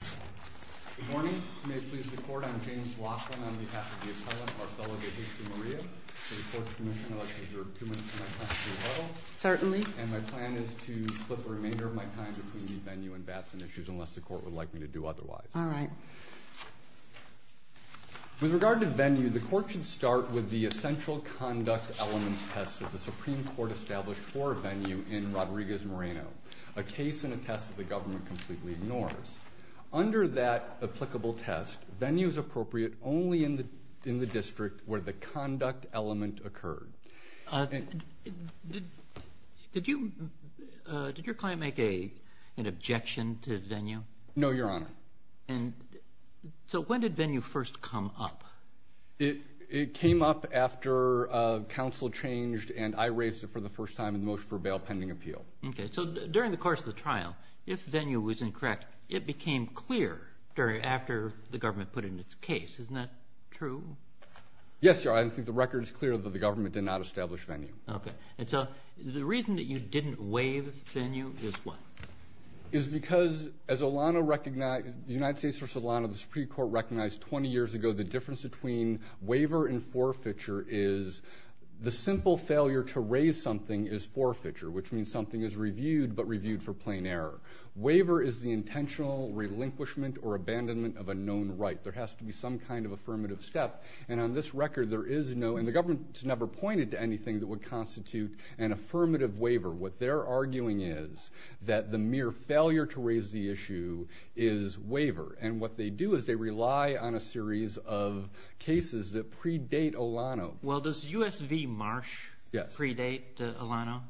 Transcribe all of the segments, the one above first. Good morning. You may please the court. I'm James Laughlin on behalf of the appellant, Marcelo De Jesumaria. For the court's permission, I'd like to reserve two minutes for my testimony as well. Certainly. And my plan is to split the remainder of my time between the venue and Batson issues, unless the court would like me to do otherwise. All right. With regard to venue, the court should start with the essential conduct elements test that the Supreme Court established for venue in Rodriguez Moreno, a case and a test that the government completely ignores. Under that applicable test, venue is appropriate only in the district where the conduct element occurred. Did your client make an objection to venue? No, Your Honor. So when did venue first come up? It came up after counsel changed and I raised it for the first time in the motion for a bail pending appeal. Okay. So during the course of the trial, if venue was incorrect, it became clear after the government put it in its case. Isn't that true? Yes, Your Honor. I think the record is clear that the government did not establish venue. Okay. And so the reason that you didn't waive venue is what? Is because, as the United States v. Solano, the Supreme Court recognized 20 years ago, the difference between waiver and forfeiture is the simple failure to raise something is forfeiture, which means something is reviewed but reviewed for plain error. Waiver is the intentional relinquishment or abandonment of a known right. There has to be some kind of affirmative step, and on this record there is no, and the government has never pointed to anything that would constitute an affirmative waiver. What they're arguing is that the mere failure to raise the issue is waiver, and what they do is they rely on a series of cases that predate Solano. Well, does U.S. v. Marsh predate Solano?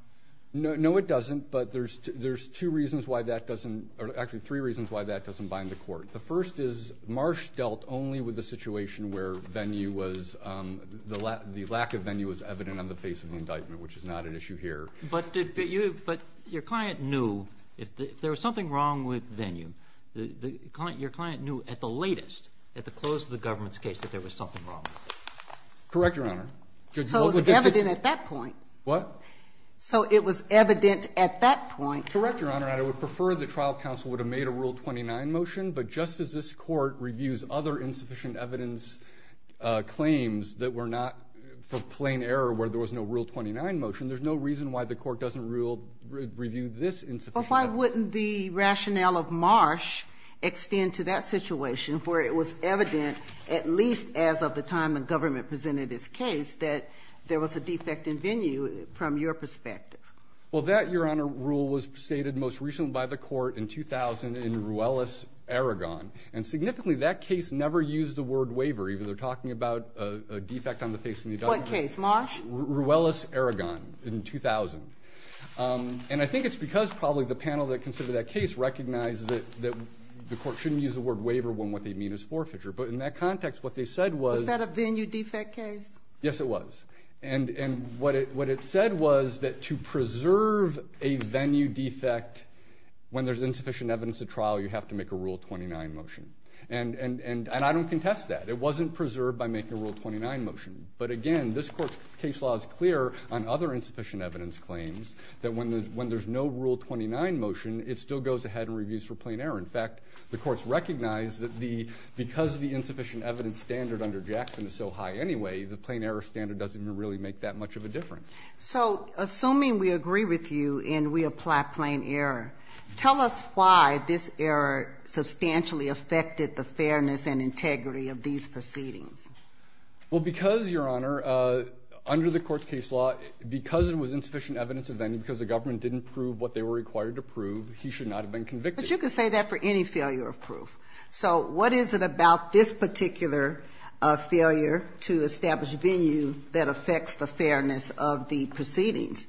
No, it doesn't, but there's two reasons why that doesn't, or actually three reasons why that doesn't bind the court. The first is Marsh dealt only with the situation where venue was, the lack of venue was evident on the face of the indictment, which is not an issue here. But your client knew, if there was something wrong with venue, your client knew at the latest, at the close of the government's case, that there was something wrong. Correct, Your Honor. So it was evident at that point. What? So it was evident at that point. Correct, Your Honor, and I would prefer the trial counsel would have made a Rule 29 motion, but just as this court reviews other insufficient evidence claims that were not for plain error where there was no Rule 29 motion, Well, why wouldn't the rationale of Marsh extend to that situation where it was evident, at least as of the time the government presented its case, that there was a defect in venue from your perspective? Well, that, Your Honor, rule was stated most recently by the court in 2000 in Ruelas-Aragon. And significantly, that case never used the word waiver, even though they're talking about a defect on the face of the indictment. What case, Marsh? Ruelas-Aragon in 2000. And I think it's because probably the panel that considered that case recognized that the court shouldn't use the word waiver when what they mean is forfeiture. But in that context, what they said was, Was that a venue defect case? Yes, it was. And what it said was that to preserve a venue defect when there's insufficient evidence at trial, you have to make a Rule 29 motion. And I don't contest that. It wasn't preserved by making a Rule 29 motion. But again, this Court's case law is clear on other insufficient evidence claims, that when there's no Rule 29 motion, it still goes ahead and reviews for plain error. In fact, the courts recognize that because the insufficient evidence standard under Jackson is so high anyway, the plain error standard doesn't really make that much of a difference. So assuming we agree with you and we apply plain error, tell us why this error substantially affected the fairness and integrity of these proceedings. Well, because, Your Honor, under the Court's case law, because it was insufficient evidence of venue, because the government didn't prove what they were required to prove, he should not have been convicted. But you could say that for any failure of proof. So what is it about this particular failure to establish venue that affects the fairness of the proceedings?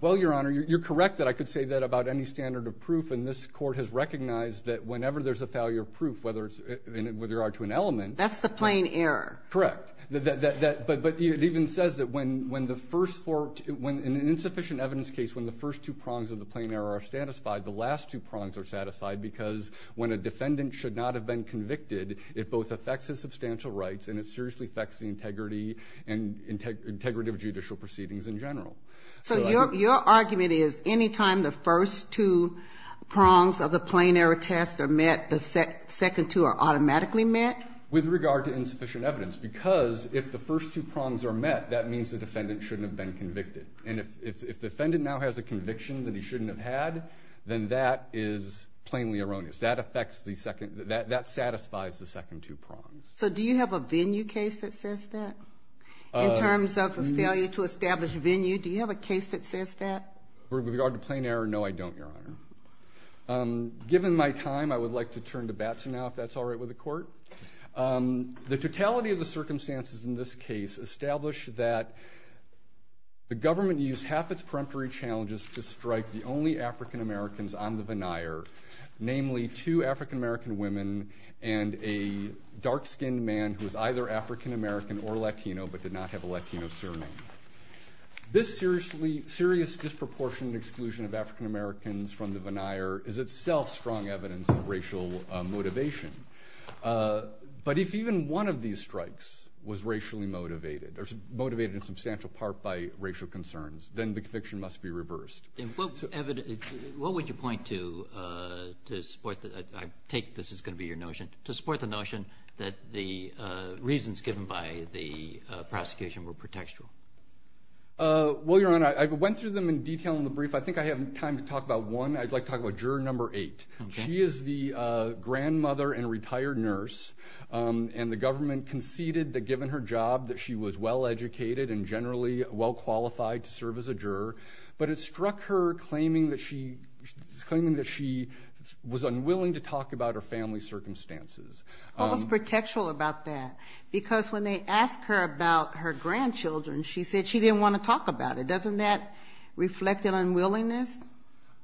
Well, Your Honor, you're correct that I could say that about any standard of proof, and this Court has recognized that whenever there's a failure of proof, whether it's to an element. That's the plain error. Correct. But it even says that when the first four, in an insufficient evidence case when the first two prongs of the plain error are satisfied, the last two prongs are satisfied, because when a defendant should not have been convicted, it both affects his substantial rights and it seriously affects the integrity and integrity of judicial proceedings in general. So your argument is any time the first two prongs of the plain error test are met, the second two are automatically met? With regard to insufficient evidence, because if the first two prongs are met, that means the defendant shouldn't have been convicted. And if the defendant now has a conviction that he shouldn't have had, then that is plainly erroneous. That satisfies the second two prongs. So do you have a venue case that says that in terms of a failure to establish venue? Do you have a case that says that? With regard to plain error, no, I don't, Your Honor. Given my time, I would like to turn to Batson now, if that's all right with the Court. The totality of the circumstances in this case establish that the government used half its peremptory challenges to strike the only African-Americans on the veneer, namely two African-American women and a dark-skinned man who was either African-American or Latino but did not have a Latino surname. This serious disproportionate exclusion of African-Americans from the veneer is itself strong evidence of racial motivation. But if even one of these strikes was racially motivated, or motivated in substantial part by racial concerns, then the conviction must be reversed. What would you point to to support that? I take this is going to be your notion. To support the notion that the reasons given by the prosecution were pretextual. Well, Your Honor, I went through them in detail in the brief. I think I have time to talk about one. I'd like to talk about Juror No. 8. She is the grandmother and retired nurse, and the government conceded that given her job that she was well-educated and generally well-qualified to serve as a juror. But it struck her claiming that she was unwilling to talk about her family's circumstances. What was pretextual about that? Because when they asked her about her grandchildren, she said she didn't want to talk about it. Doesn't that reflect an unwillingness?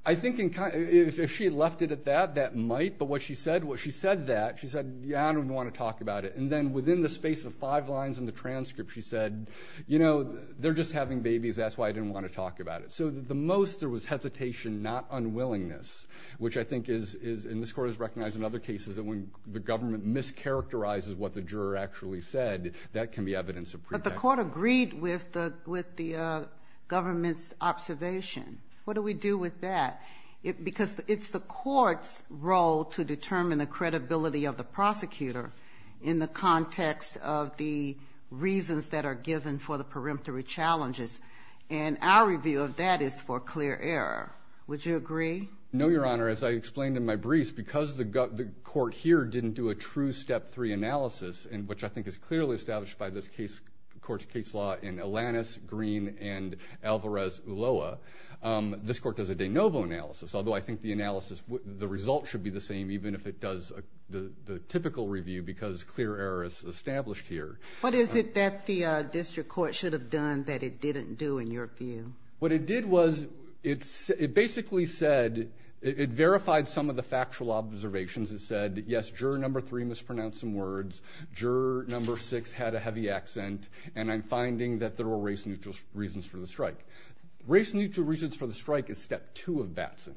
I think if she had left it at that, that might. But what she said was she said that. She said, yeah, I don't even want to talk about it. And then within the space of five lines in the transcript, she said, you know, they're just having babies. That's why I didn't want to talk about it. So the most there was hesitation, not unwillingness, which I think is, and this Court has recognized in other cases, that when the government mischaracterizes what the juror actually said, that can be evidence of pretext. But the Court agreed with the government's observation. What do we do with that? Because it's the Court's role to determine the credibility of the prosecutor in the context of the reasons that are given for the peremptory challenges. And our review of that is for clear error. Would you agree? No, Your Honor. As I explained in my briefs, because the Court here didn't do a true Step 3 analysis, which I think is clearly established by this Court's case law in Alanis, Green, and Alvarez-Uloa, this Court does a de novo analysis, although I think the analysis, the results should be the same even if it does the typical review because clear error is established here. What is it that the district court should have done that it didn't do in your view? What it did was it basically said, it verified some of the factual observations. It said, yes, juror number three mispronounced some words, juror number six had a heavy accent, and I'm finding that there were race-neutral reasons for the strike. Race-neutral reasons for the strike is Step 2 of Batson.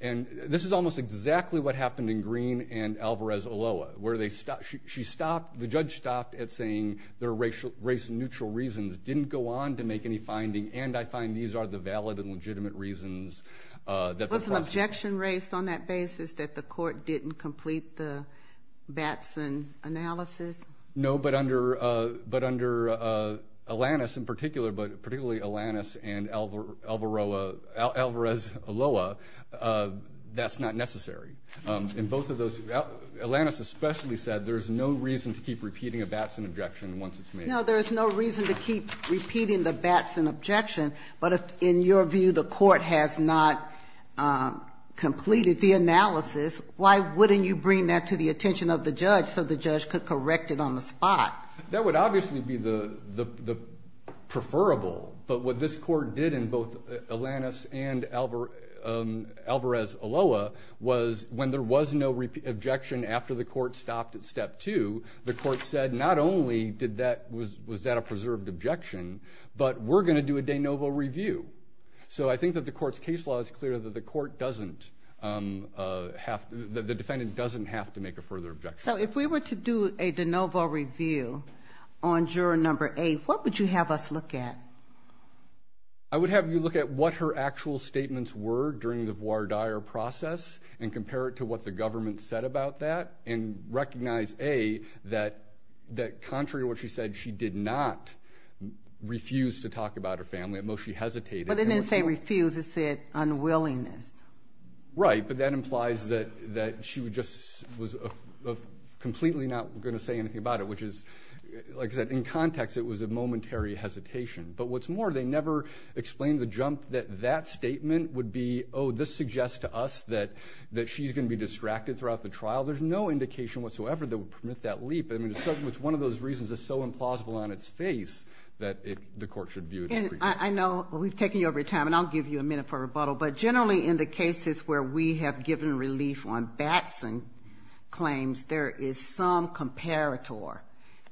And this is almost exactly what happened in Green and Alvarez-Uloa, where the judge stopped at saying there are race-neutral reasons, didn't go on to make any finding, and I find these are the valid and legitimate reasons. Was an objection raised on that basis that the Court didn't complete the Batson analysis? No, but under Alanis in particular, but particularly Alanis and Alvarez-Uloa, that's not necessary. In both of those, Alanis especially said there's no reason to keep repeating a Batson objection once it's made. No, there's no reason to keep repeating the Batson objection, but if in your view the Court has not completed the analysis, why wouldn't you bring that to the attention of the judge so the judge could correct it on the spot? That would obviously be preferable, but what this Court did in both Alanis and Alvarez-Uloa was when there was no objection after the Court stopped at Step 2, the Court said not only was that a preserved objection, but we're going to do a de novo review. So I think that the Court's case law is clear that the defendant doesn't have to make a further objection. So if we were to do a de novo review on Juror No. 8, what would you have us look at? I would have you look at what her actual statements were during the voir dire process and compare it to what the government said about that and recognize, A, that contrary to what she said, she did not refuse to talk about her family. At most she hesitated. But it didn't say refuse, it said unwillingness. Right, but that implies that she just was completely not going to say anything about it, which is, like I said, in context it was a momentary hesitation. But what's more, they never explained the jump that that statement would be, oh, this suggests to us that she's going to be distracted throughout the trial. There's no indication whatsoever that would permit that leap. I mean, it's one of those reasons that's so implausible on its face that the Court should view it. And I know we've taken you over your time, and I'll give you a minute for rebuttal, but generally in the cases where we have given relief on Batson claims, there is some comparator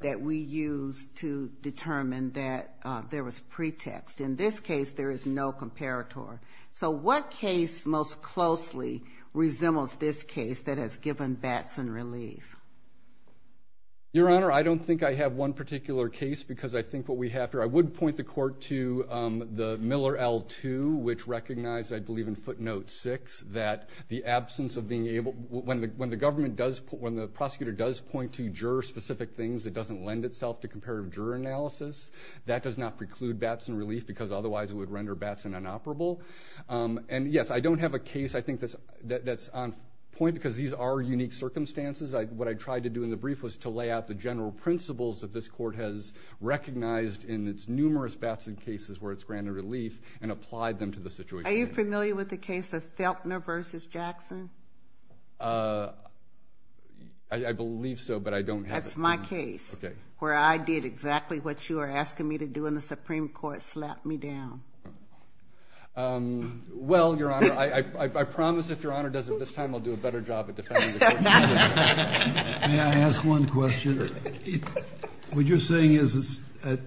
that we use to determine that there was pretext. In this case, there is no comparator. So what case most closely resembles this case that has given Batson relief? Your Honor, I don't think I have one particular case because I think what we have here, I would point the Court to the Miller L-2, which recognized, I believe, in footnote 6, that the absence of being able to, when the government does, when the prosecutor does point to juror-specific things that doesn't lend itself to comparative juror analysis, that does not preclude Batson relief because otherwise it would render Batson inoperable. And, yes, I don't have a case I think that's on point because these are unique circumstances. What I tried to do in the brief was to lay out the general principles that this Court has recognized in its numerous Batson cases where it's granted relief and applied them to the situation. Are you familiar with the case of Feltner v. Jackson? I believe so, but I don't have it. That's my case where I did exactly what you are asking me to do and the Supreme Court slapped me down. Well, Your Honor, I promise if Your Honor does it this time, I'll do a better job of defending the Court. May I ask one question? Sure. What you're saying is that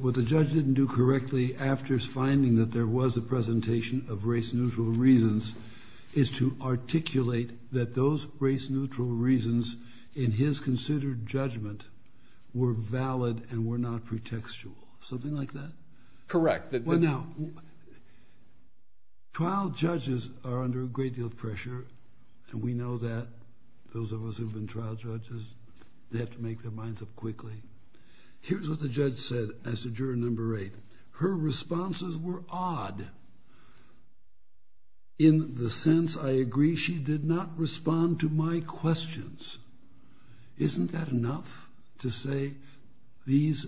what the judge didn't do correctly after his finding that there was a presentation of race-neutral reasons is to articulate that those race-neutral reasons in his considered judgment were valid and were not pretextual. Something like that? Correct. Well, now, trial judges are under a great deal of pressure, and we know that. Those of us who've been trial judges, they have to make their minds up quickly. Here's what the judge said as to juror number eight. Her responses were odd in the sense, I agree, she did not respond to my questions. Isn't that enough to say these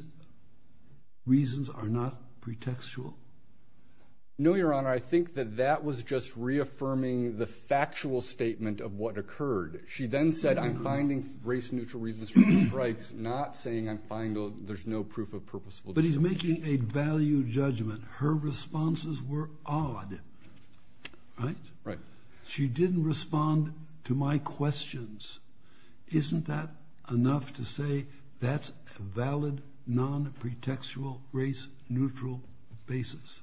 reasons are not pretextual? No, Your Honor. I think that that was just reaffirming the factual statement of what occurred. She then said, I'm finding race-neutral reasons for the strikes, not saying I'm finding there's no proof of purpose. But he's making a value judgment. Her responses were odd. Right? Right. She didn't respond to my questions. Isn't that enough to say that's a valid, non-pretextual, race-neutral basis?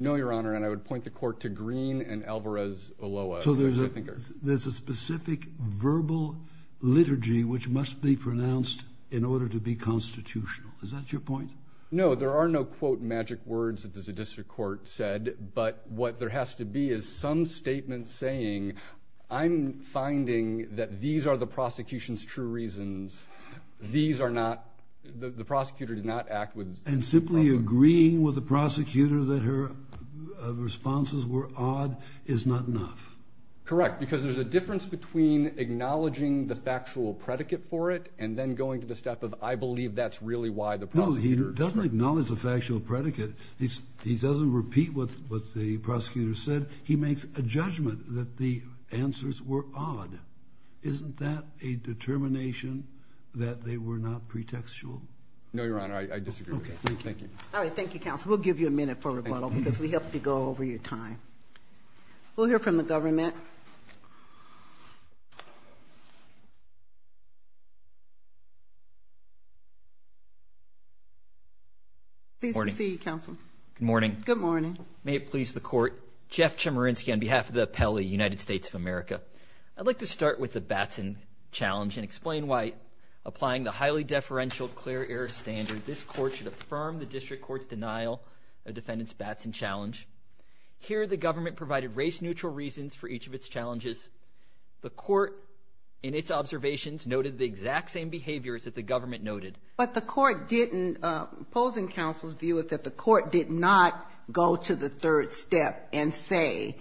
No, Your Honor, and I would point the court to Green and Alvarez-Oloa. So there's a specific verbal liturgy which must be pronounced in order to be constitutional. Is that your point? No. There are no, quote, magic words that the district court said. But what there has to be is some statement saying, I'm finding that these are the prosecution's true reasons. These are not the prosecutor did not act with. And simply agreeing with the prosecutor that her responses were odd is not enough. Correct, because there's a difference between acknowledging the factual predicate for it and then going to the step of I believe that's really why the prosecutor said it. As long as the factual predicate, he doesn't repeat what the prosecutor said. He makes a judgment that the answers were odd. Isn't that a determination that they were not pretextual? No, Your Honor. I disagree with that. Thank you. All right. Thank you, counsel. We'll give you a minute for rebuttal because we have to go over your time. We'll hear from the government. Please proceed, counsel. Good morning. Good morning. May it please the court. Jeff Chemerinsky on behalf of the appellee, United States of America. I'd like to start with the Batson challenge and explain why applying the highly deferential clear error standard, this court should affirm the district court's denial of defendant's Batson challenge. Here the government provided race-neutral reasons for each of its challenges. The court in its observations noted the exact same behaviors that the government noted. But the court didn't, opposing counsel's view is that the court did not go to the third step and say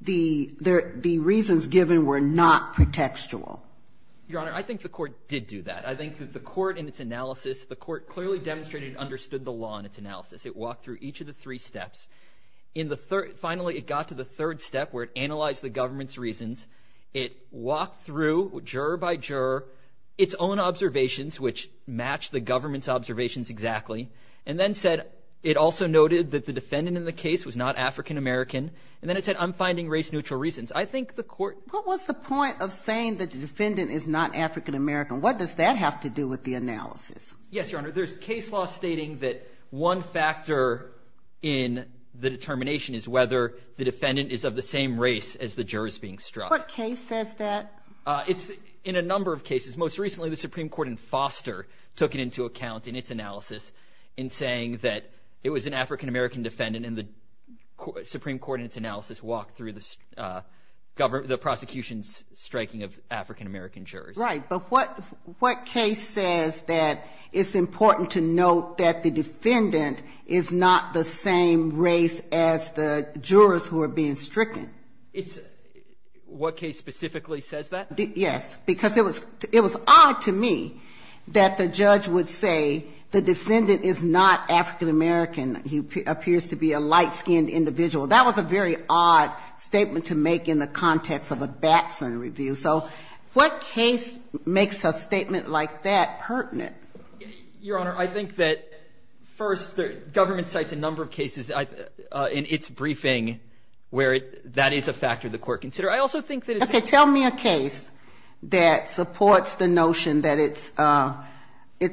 the reasons given were not pretextual. Your Honor, I think the court did do that. I think that the court in its analysis, the court clearly demonstrated it understood the law in its analysis. It walked through each of the three steps. Finally, it got to the third step where it analyzed the government's reasons. It walked through, juror by juror, its own observations, which matched the government's observations exactly, and then said it also noted that the defendant in the case was not African-American, and then it said I'm finding race-neutral reasons. I think the court ---- What was the point of saying that the defendant is not African-American? What does that have to do with the analysis? Yes, Your Honor. There's case law stating that one factor in the determination is whether the defendant is of the same race as the jurors being struck. What case says that? It's in a number of cases. Most recently, the Supreme Court in Foster took it into account in its analysis in saying that it was an African-American defendant, and the Supreme Court in its analysis walked through the prosecution's striking of African-American jurors. Right, but what case says that it's important to note that the defendant is not the same race as the jurors who are being stricken? It's ---- What case specifically says that? Yes, because it was odd to me that the judge would say the defendant is not African-American. He appears to be a light-skinned individual. That was a very odd statement to make in the context of a Batson review. So what case makes a statement like that pertinent? Your Honor, I think that, first, the government cites a number of cases in its briefing where that is a factor the court considers. I also think that it's ---- Okay. Tell me a case that supports the notion that it's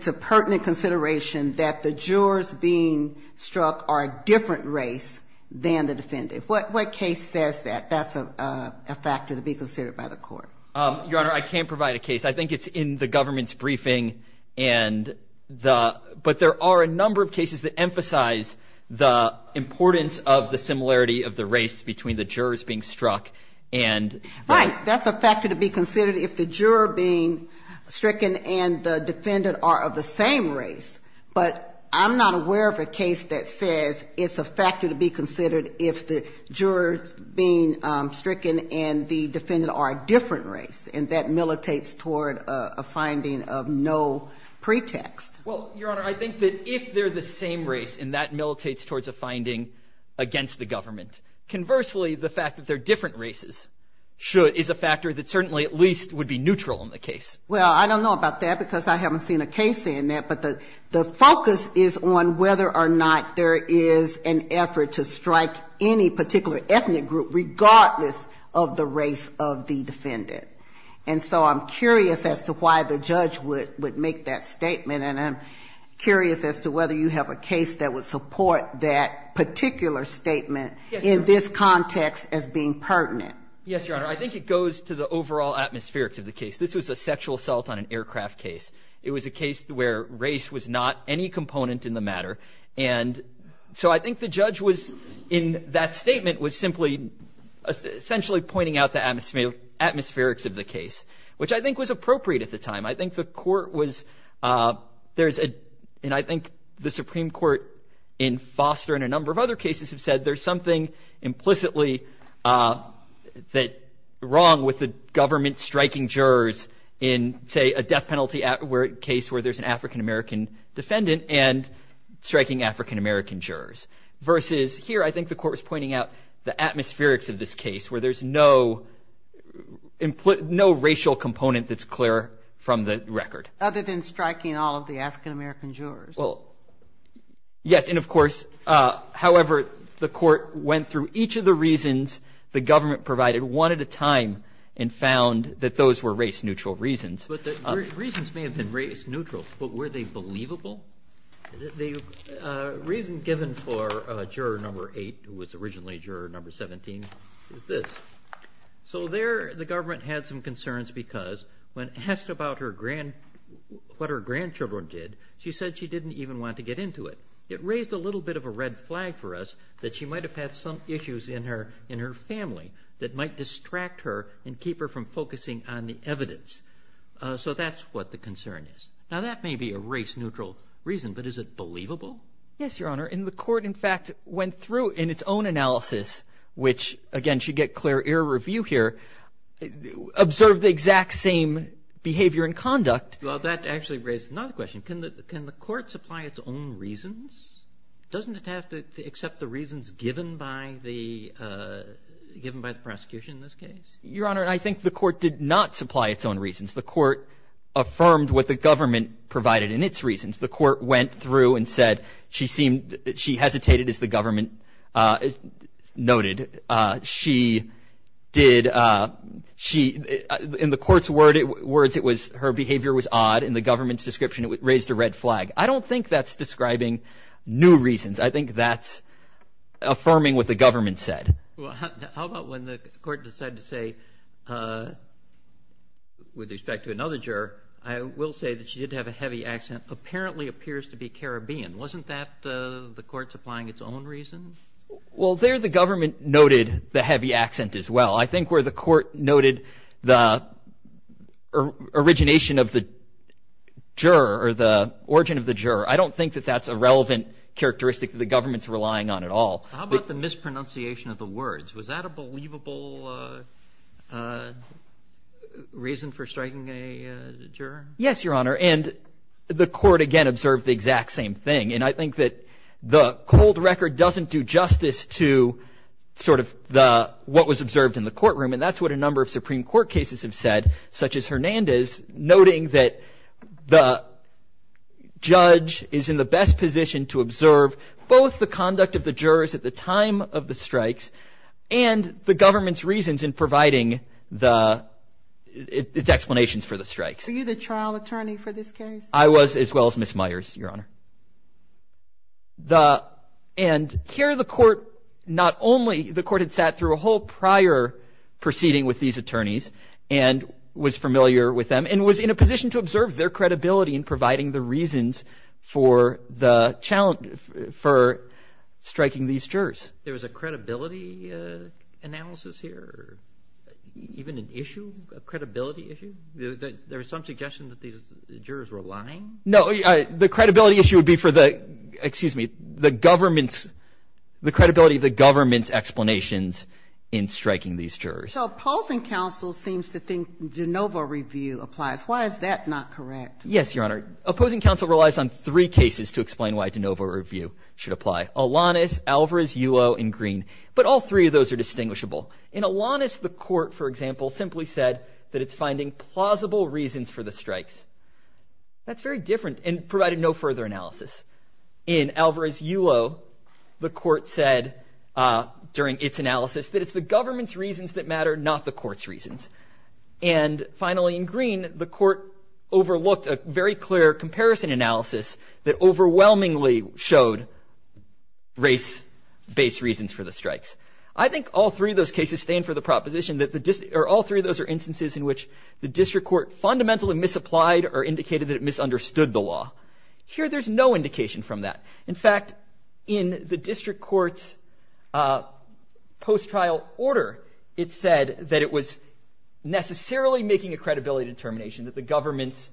a pertinent consideration that the jurors being struck are a different race than the defendant. What case says that that's a factor to be considered by the court? Your Honor, I can't provide a case. I think it's in the government's briefing. But there are a number of cases that emphasize the importance of the similarity of the race between the jurors being struck and ---- Right, that's a factor to be considered if the juror being stricken and the defendant are of the same race. But I'm not aware of a case that says it's a factor to be considered if the jurors being stricken and the defendant are a different race, and that militates toward a finding of no pretext. Well, Your Honor, I think that if they're the same race and that militates towards a finding against the government, conversely, the fact that they're different races should ---- is a factor that certainly at least would be neutral in the case. Well, I don't know about that because I haven't seen a case saying that. But the focus is on whether or not there is an effort to strike any particular ethnic group regardless of the race of the defendant. And so I'm curious as to why the judge would make that statement. And I'm curious as to whether you have a case that would support that particular statement in this context as being pertinent. Yes, Your Honor. I think it goes to the overall atmospherics of the case. This was a sexual assault on an aircraft case. It was a case where race was not any component in the matter. And so I think the judge was in that statement was simply essentially pointing out the atmospherics of the case, which I think was appropriate at the time. I think the court was ---- there's a ---- and I think the Supreme Court in Foster and a number of other cases have said there's something implicitly wrong with the government striking jurors in, say, a death penalty case where there's an African-American juror. And so I think the court was pointing out the atmospherics of this case where there's no racial component that's clear from the record. Other than striking all of the African-American jurors. Well, yes, and of course, however, the court went through each of the reasons the government provided one at a time and found that those were race-neutral reasons. But the reasons may have been race-neutral, but were they believable? The reason given for juror number eight, who was originally juror number 17, is this. So there the government had some concerns because when asked about what her grandchildren did, she said she didn't even want to get into it. It raised a little bit of a red flag for us that she might have had some issues in her family that might distract her and keep her from focusing on the evidence. So that's what the concern is. Now, that may be a race-neutral reason, but is it believable? Yes, Your Honor. And the court, in fact, went through in its own analysis, which, again, should get clear ear review here, observed the exact same behavior and conduct. Well, that actually raises another question. Can the court supply its own reasons? Doesn't it have to accept the reasons given by the prosecution in this case? Your Honor, I think the court did not supply its own reasons. The court affirmed what the government provided in its reasons. The court went through and said she seemed to be hesitated, as the government noted. She did – in the court's words, it was her behavior was odd. In the government's description, it raised a red flag. I don't think that's describing new reasons. I think that's affirming what the government said. Well, how about when the court decided to say, with respect to another juror, I will say that she did have a heavy accent, apparently appears to be Caribbean. Wasn't that the court supplying its own reason? Well, there the government noted the heavy accent as well. I think where the court noted the origination of the juror or the origin of the juror, I don't think that that's a relevant characteristic that the government's relying on at all. How about the mispronunciation of the words? Was that a believable reason for striking a juror? Yes, Your Honor. And the court, again, observed the exact same thing. And I think that the cold record doesn't do justice to sort of the – what was observed in the courtroom. And that's what a number of Supreme Court cases have said, such as Hernandez, noting that the judge is in the best position to observe both the conduct of the jurors at the time of the strikes and the government's reasons in providing the – its explanations for the strikes. Were you the trial attorney for this case? I was, as well as Ms. Myers, Your Honor. And here the court not only – the court had sat through a whole prior proceeding with these attorneys and was familiar with them and was in a position to observe their credibility in providing the reasons for the – for striking these jurors. There was a credibility analysis here or even an issue, a credibility issue? There was some suggestion that these jurors were lying? No, the credibility issue would be for the – excuse me, the government's – the credibility of the government's explanations in striking these jurors. So opposing counsel seems to think de novo review applies. Why is that not correct? Yes, Your Honor. Opposing counsel relies on three cases to explain why de novo review should apply, Alanis, Alvarez, Yulo, and Green. But all three of those are distinguishable. In Alanis, the court, for example, simply said that it's finding plausible reasons for the strikes. That's very different and provided no further analysis. In Alvarez-Yulo, the court said during its analysis that it's the government's reasons that matter, not the court's reasons. And finally, in Green, the court overlooked a very clear comparison analysis that overwhelmingly showed race-based reasons for the strikes. I think all three of those cases stand for the proposition that the – or all three of those are instances in which the district court fundamentally misapplied or indicated that it misunderstood the law. Here there's no indication from that. In fact, in the district court's post-trial order, it said that it was necessarily making a credibility determination that the government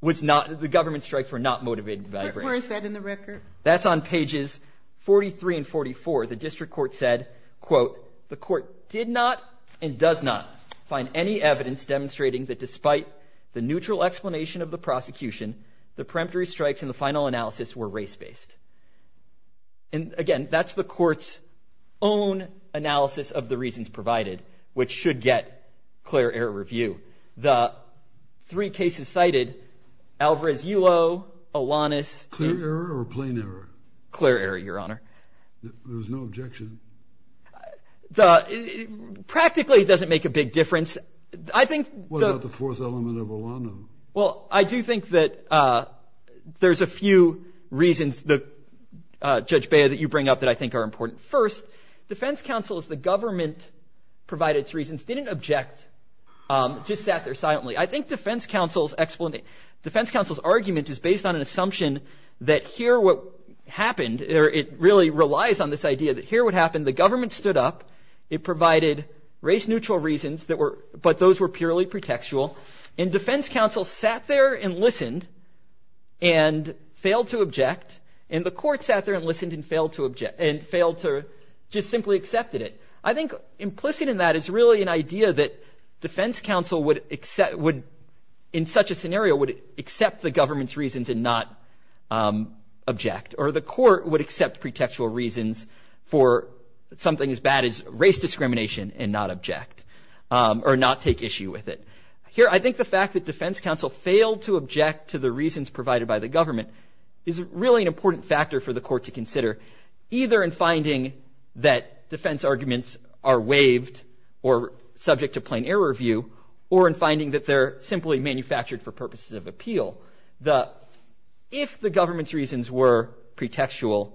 was not – that the government strikes were not motivated by race. Where is that in the record? That's on pages 43 and 44. The district court said, quote, the court did not and does not find any evidence demonstrating that despite the neutral explanation of the prosecution, the peremptory strikes in the final analysis were race-based. And again, that's the court's own analysis of the reasons provided, which should get clear error review. The three cases cited, Alvarez-Yulo, Alanis – Clear error or plain error? Clear error, Your Honor. There's no objection? The – practically it doesn't make a big difference. I think the – What about the fourth element of Alano? Well, I do think that there's a few reasons that, Judge Bea, that you bring up that I think are important. First, defense counsel, as the government provided its reasons, didn't object, just sat there silently. I think defense counsel's argument is based on an assumption that here what happened – or it really relies on this idea that here what happened, the government stood up, it provided race-neutral reasons that were – but those were purely pretextual. And defense counsel sat there and listened and failed to object. And the court sat there and listened and failed to object – and failed to – just simply accepted it. I think implicit in that is really an idea that defense counsel would – in such a scenario would accept the government's reasons and not object. Or the court would accept pretextual reasons for something as bad as race discrimination and not object or not take issue with it. Here, I think the fact that defense counsel failed to object to the reasons provided by the government is really an important factor for the court to consider, either in finding that defense arguments are waived or subject to plain error view, or in finding that they're simply manufactured for purposes of appeal. If the government's reasons were pretextual,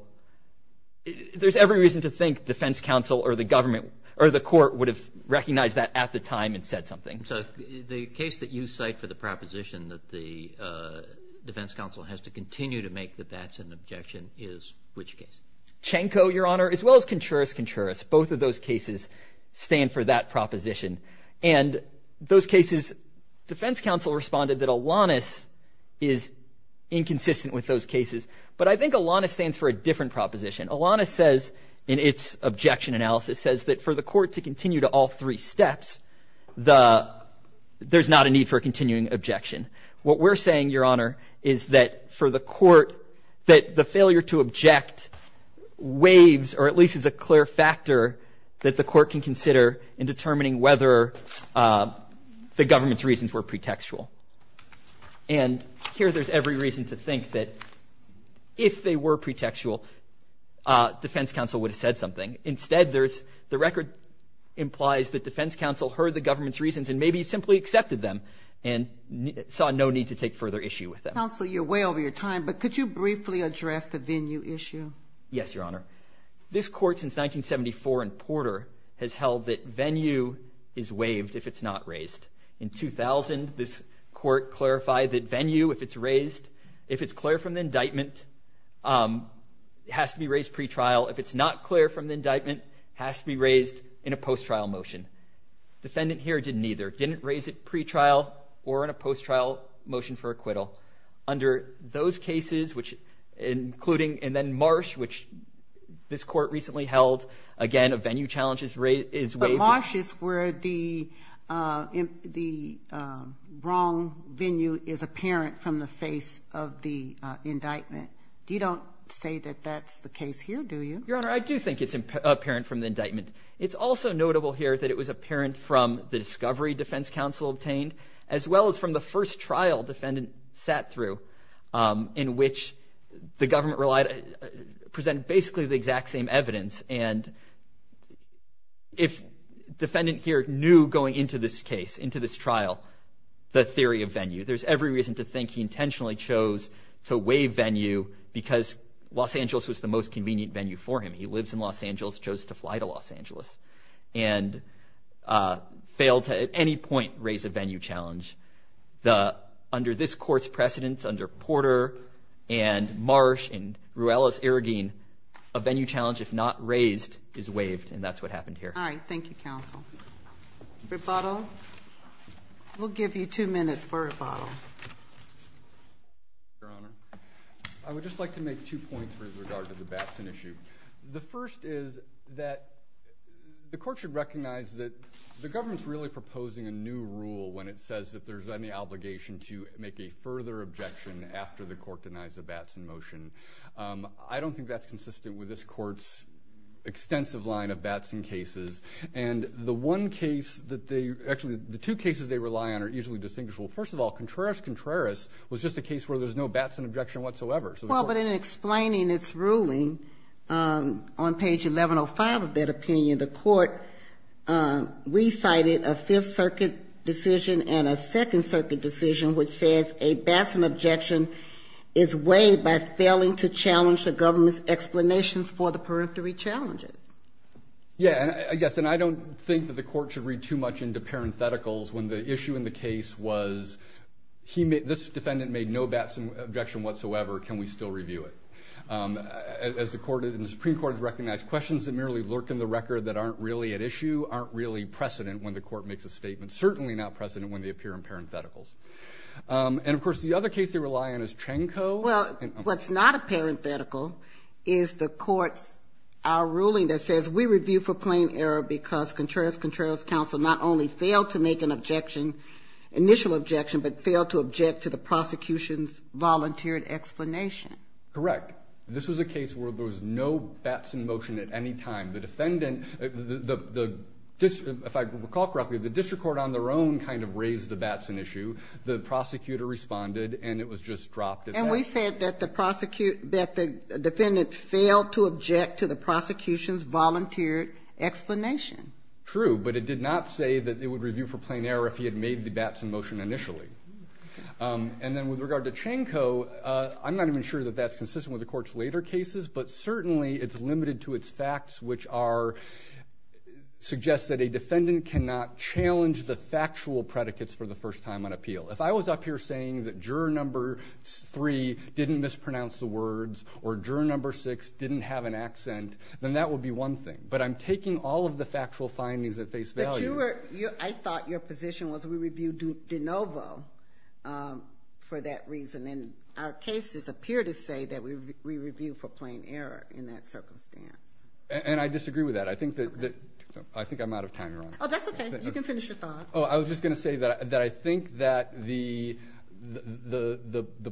there's every reason to think defense counsel or the government – or the court would have recognized that at the time and said something. And so the case that you cite for the proposition that the defense counsel has to continue to make the bets and objection is which case? Chenko, Your Honor, as well as Contreras-Contreras. Both of those cases stand for that proposition. And those cases – defense counsel responded that Alanis is inconsistent with those cases. But I think Alanis stands for a different proposition. Alanis says in its objection analysis says that for the court to continue to take all three steps, there's not a need for a continuing objection. What we're saying, Your Honor, is that for the court, that the failure to object waives or at least is a clear factor that the court can consider in determining whether the government's reasons were pretextual. And here there's every reason to think that if they were pretextual, defense counsel would have said something. Instead, the record implies that defense counsel heard the government's reasons and maybe simply accepted them and saw no need to take further issue with them. Counsel, you're way over your time, but could you briefly address the Venue issue? Yes, Your Honor. This court since 1974 in Porter has held that Venue is waived if it's not raised. In 2000, this court clarified that Venue, if it's raised, if it's clear from the indictment, has to be raised pretrial. If it's not clear from the indictment, has to be raised in a post-trial motion. Defendant here didn't either. Didn't raise it pretrial or in a post-trial motion for acquittal. Under those cases, which including and then Marsh, which this court recently held, again, a Venue challenge is waived. But Marsh is where the wrong Venue is apparent from the face of the indictment. You don't say that that's the case here, do you? Your Honor, I do think it's apparent from the indictment. It's also notable here that it was apparent from the discovery defense counsel obtained as well as from the first trial defendant sat through in which the government relied, presented basically the exact same evidence. And if defendant here knew going into this case, into this trial, the theory of Venue, there's every reason to think he intentionally chose to waive Venue because Los Angeles was the most convenient Venue for him. He lives in Los Angeles, chose to fly to Los Angeles, and failed to at any point raise a Venue challenge. Under this court's precedence, under Porter and Marsh and Ruelas-Arragin, a Venue challenge, if not raised, is waived, and that's what happened here. All right. Thank you, counsel. Rebuttal? We'll give you two minutes for rebuttal. Your Honor, I would just like to make two points with regard to the Batson issue. The first is that the court should recognize that the government's really proposing a new rule when it says that there's any obligation to make a further objection after the court denies the Batson motion. I don't think that's consistent with this court's extensive line of Batson cases, and the one case that they actually the two cases they rely on are easily distinguishable. First of all, Contreras-Contreras was just a case where there's no Batson objection whatsoever. Well, but in explaining its ruling on page 1105 of that opinion, the court recited a Fifth Circuit decision and a Second Circuit decision which says a Batson objection is waived by failing to challenge the government's explanations for the periphery challenges. Yes, and I don't think that the court should read too much into parentheticals when the issue in the case was this defendant made no Batson objection whatsoever. Can we still review it? As the Supreme Court has recognized, questions that merely lurk in the record that aren't really at issue aren't really precedent when the court makes a statement, certainly not precedent when they appear in parentheticals. And, of course, the other case they rely on is Chenko. Well, what's not a parenthetical is the court's ruling that says we review for plain error because Contreras-Contreras counsel not only failed to make an objection, initial objection, but failed to object to the prosecution's volunteered explanation. Correct. This was a case where there was no Batson motion at any time. The defendant, if I recall correctly, the district court on their own kind of raised the Batson issue. The prosecutor responded, and it was just dropped at that. And we said that the defendant failed to object to the prosecution's volunteered explanation. True. But it did not say that it would review for plain error if he had made the Batson motion initially. And then with regard to Chenko, I'm not even sure that that's consistent with the Court's later cases, but certainly it's limited to its facts, which are suggests that a defendant cannot challenge the factual predicates for the first time on appeal. If I was up here saying that juror number three didn't mispronounce the words or juror number six didn't have an accent, then that would be one thing. But I'm taking all of the factual findings at face value. But I thought your position was we reviewed de novo for that reason. And our cases appear to say that we review for plain error in that circumstance. And I disagree with that. I think I'm out of time, Your Honor. Oh, that's okay. You can finish your thought. I was just going to say that I think that the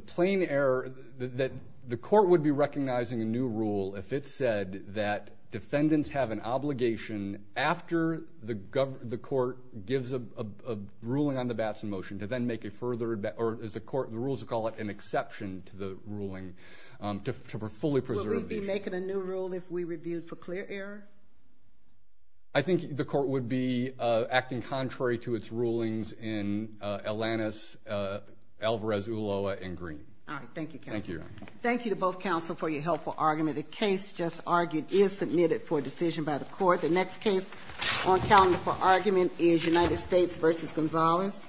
plain error that the Court would be recognizing a new rule if it said that defendants have an obligation after the Court gives a ruling on the Batson motion to then make a further or as the Court rules to call it an exception to the ruling to fully preserve the issue. Would we be making a new rule if we reviewed for clear error? I think the Court would be acting contrary to its rulings in Alanis, Alvarez, Ulloa, and Green. All right. Thank you, counsel. Thank you, Your Honor. Thank you to both counsel for your helpful argument. The case just argued is submitted for decision by the Court. The next case on calendar for argument is United States v. Gonzalez.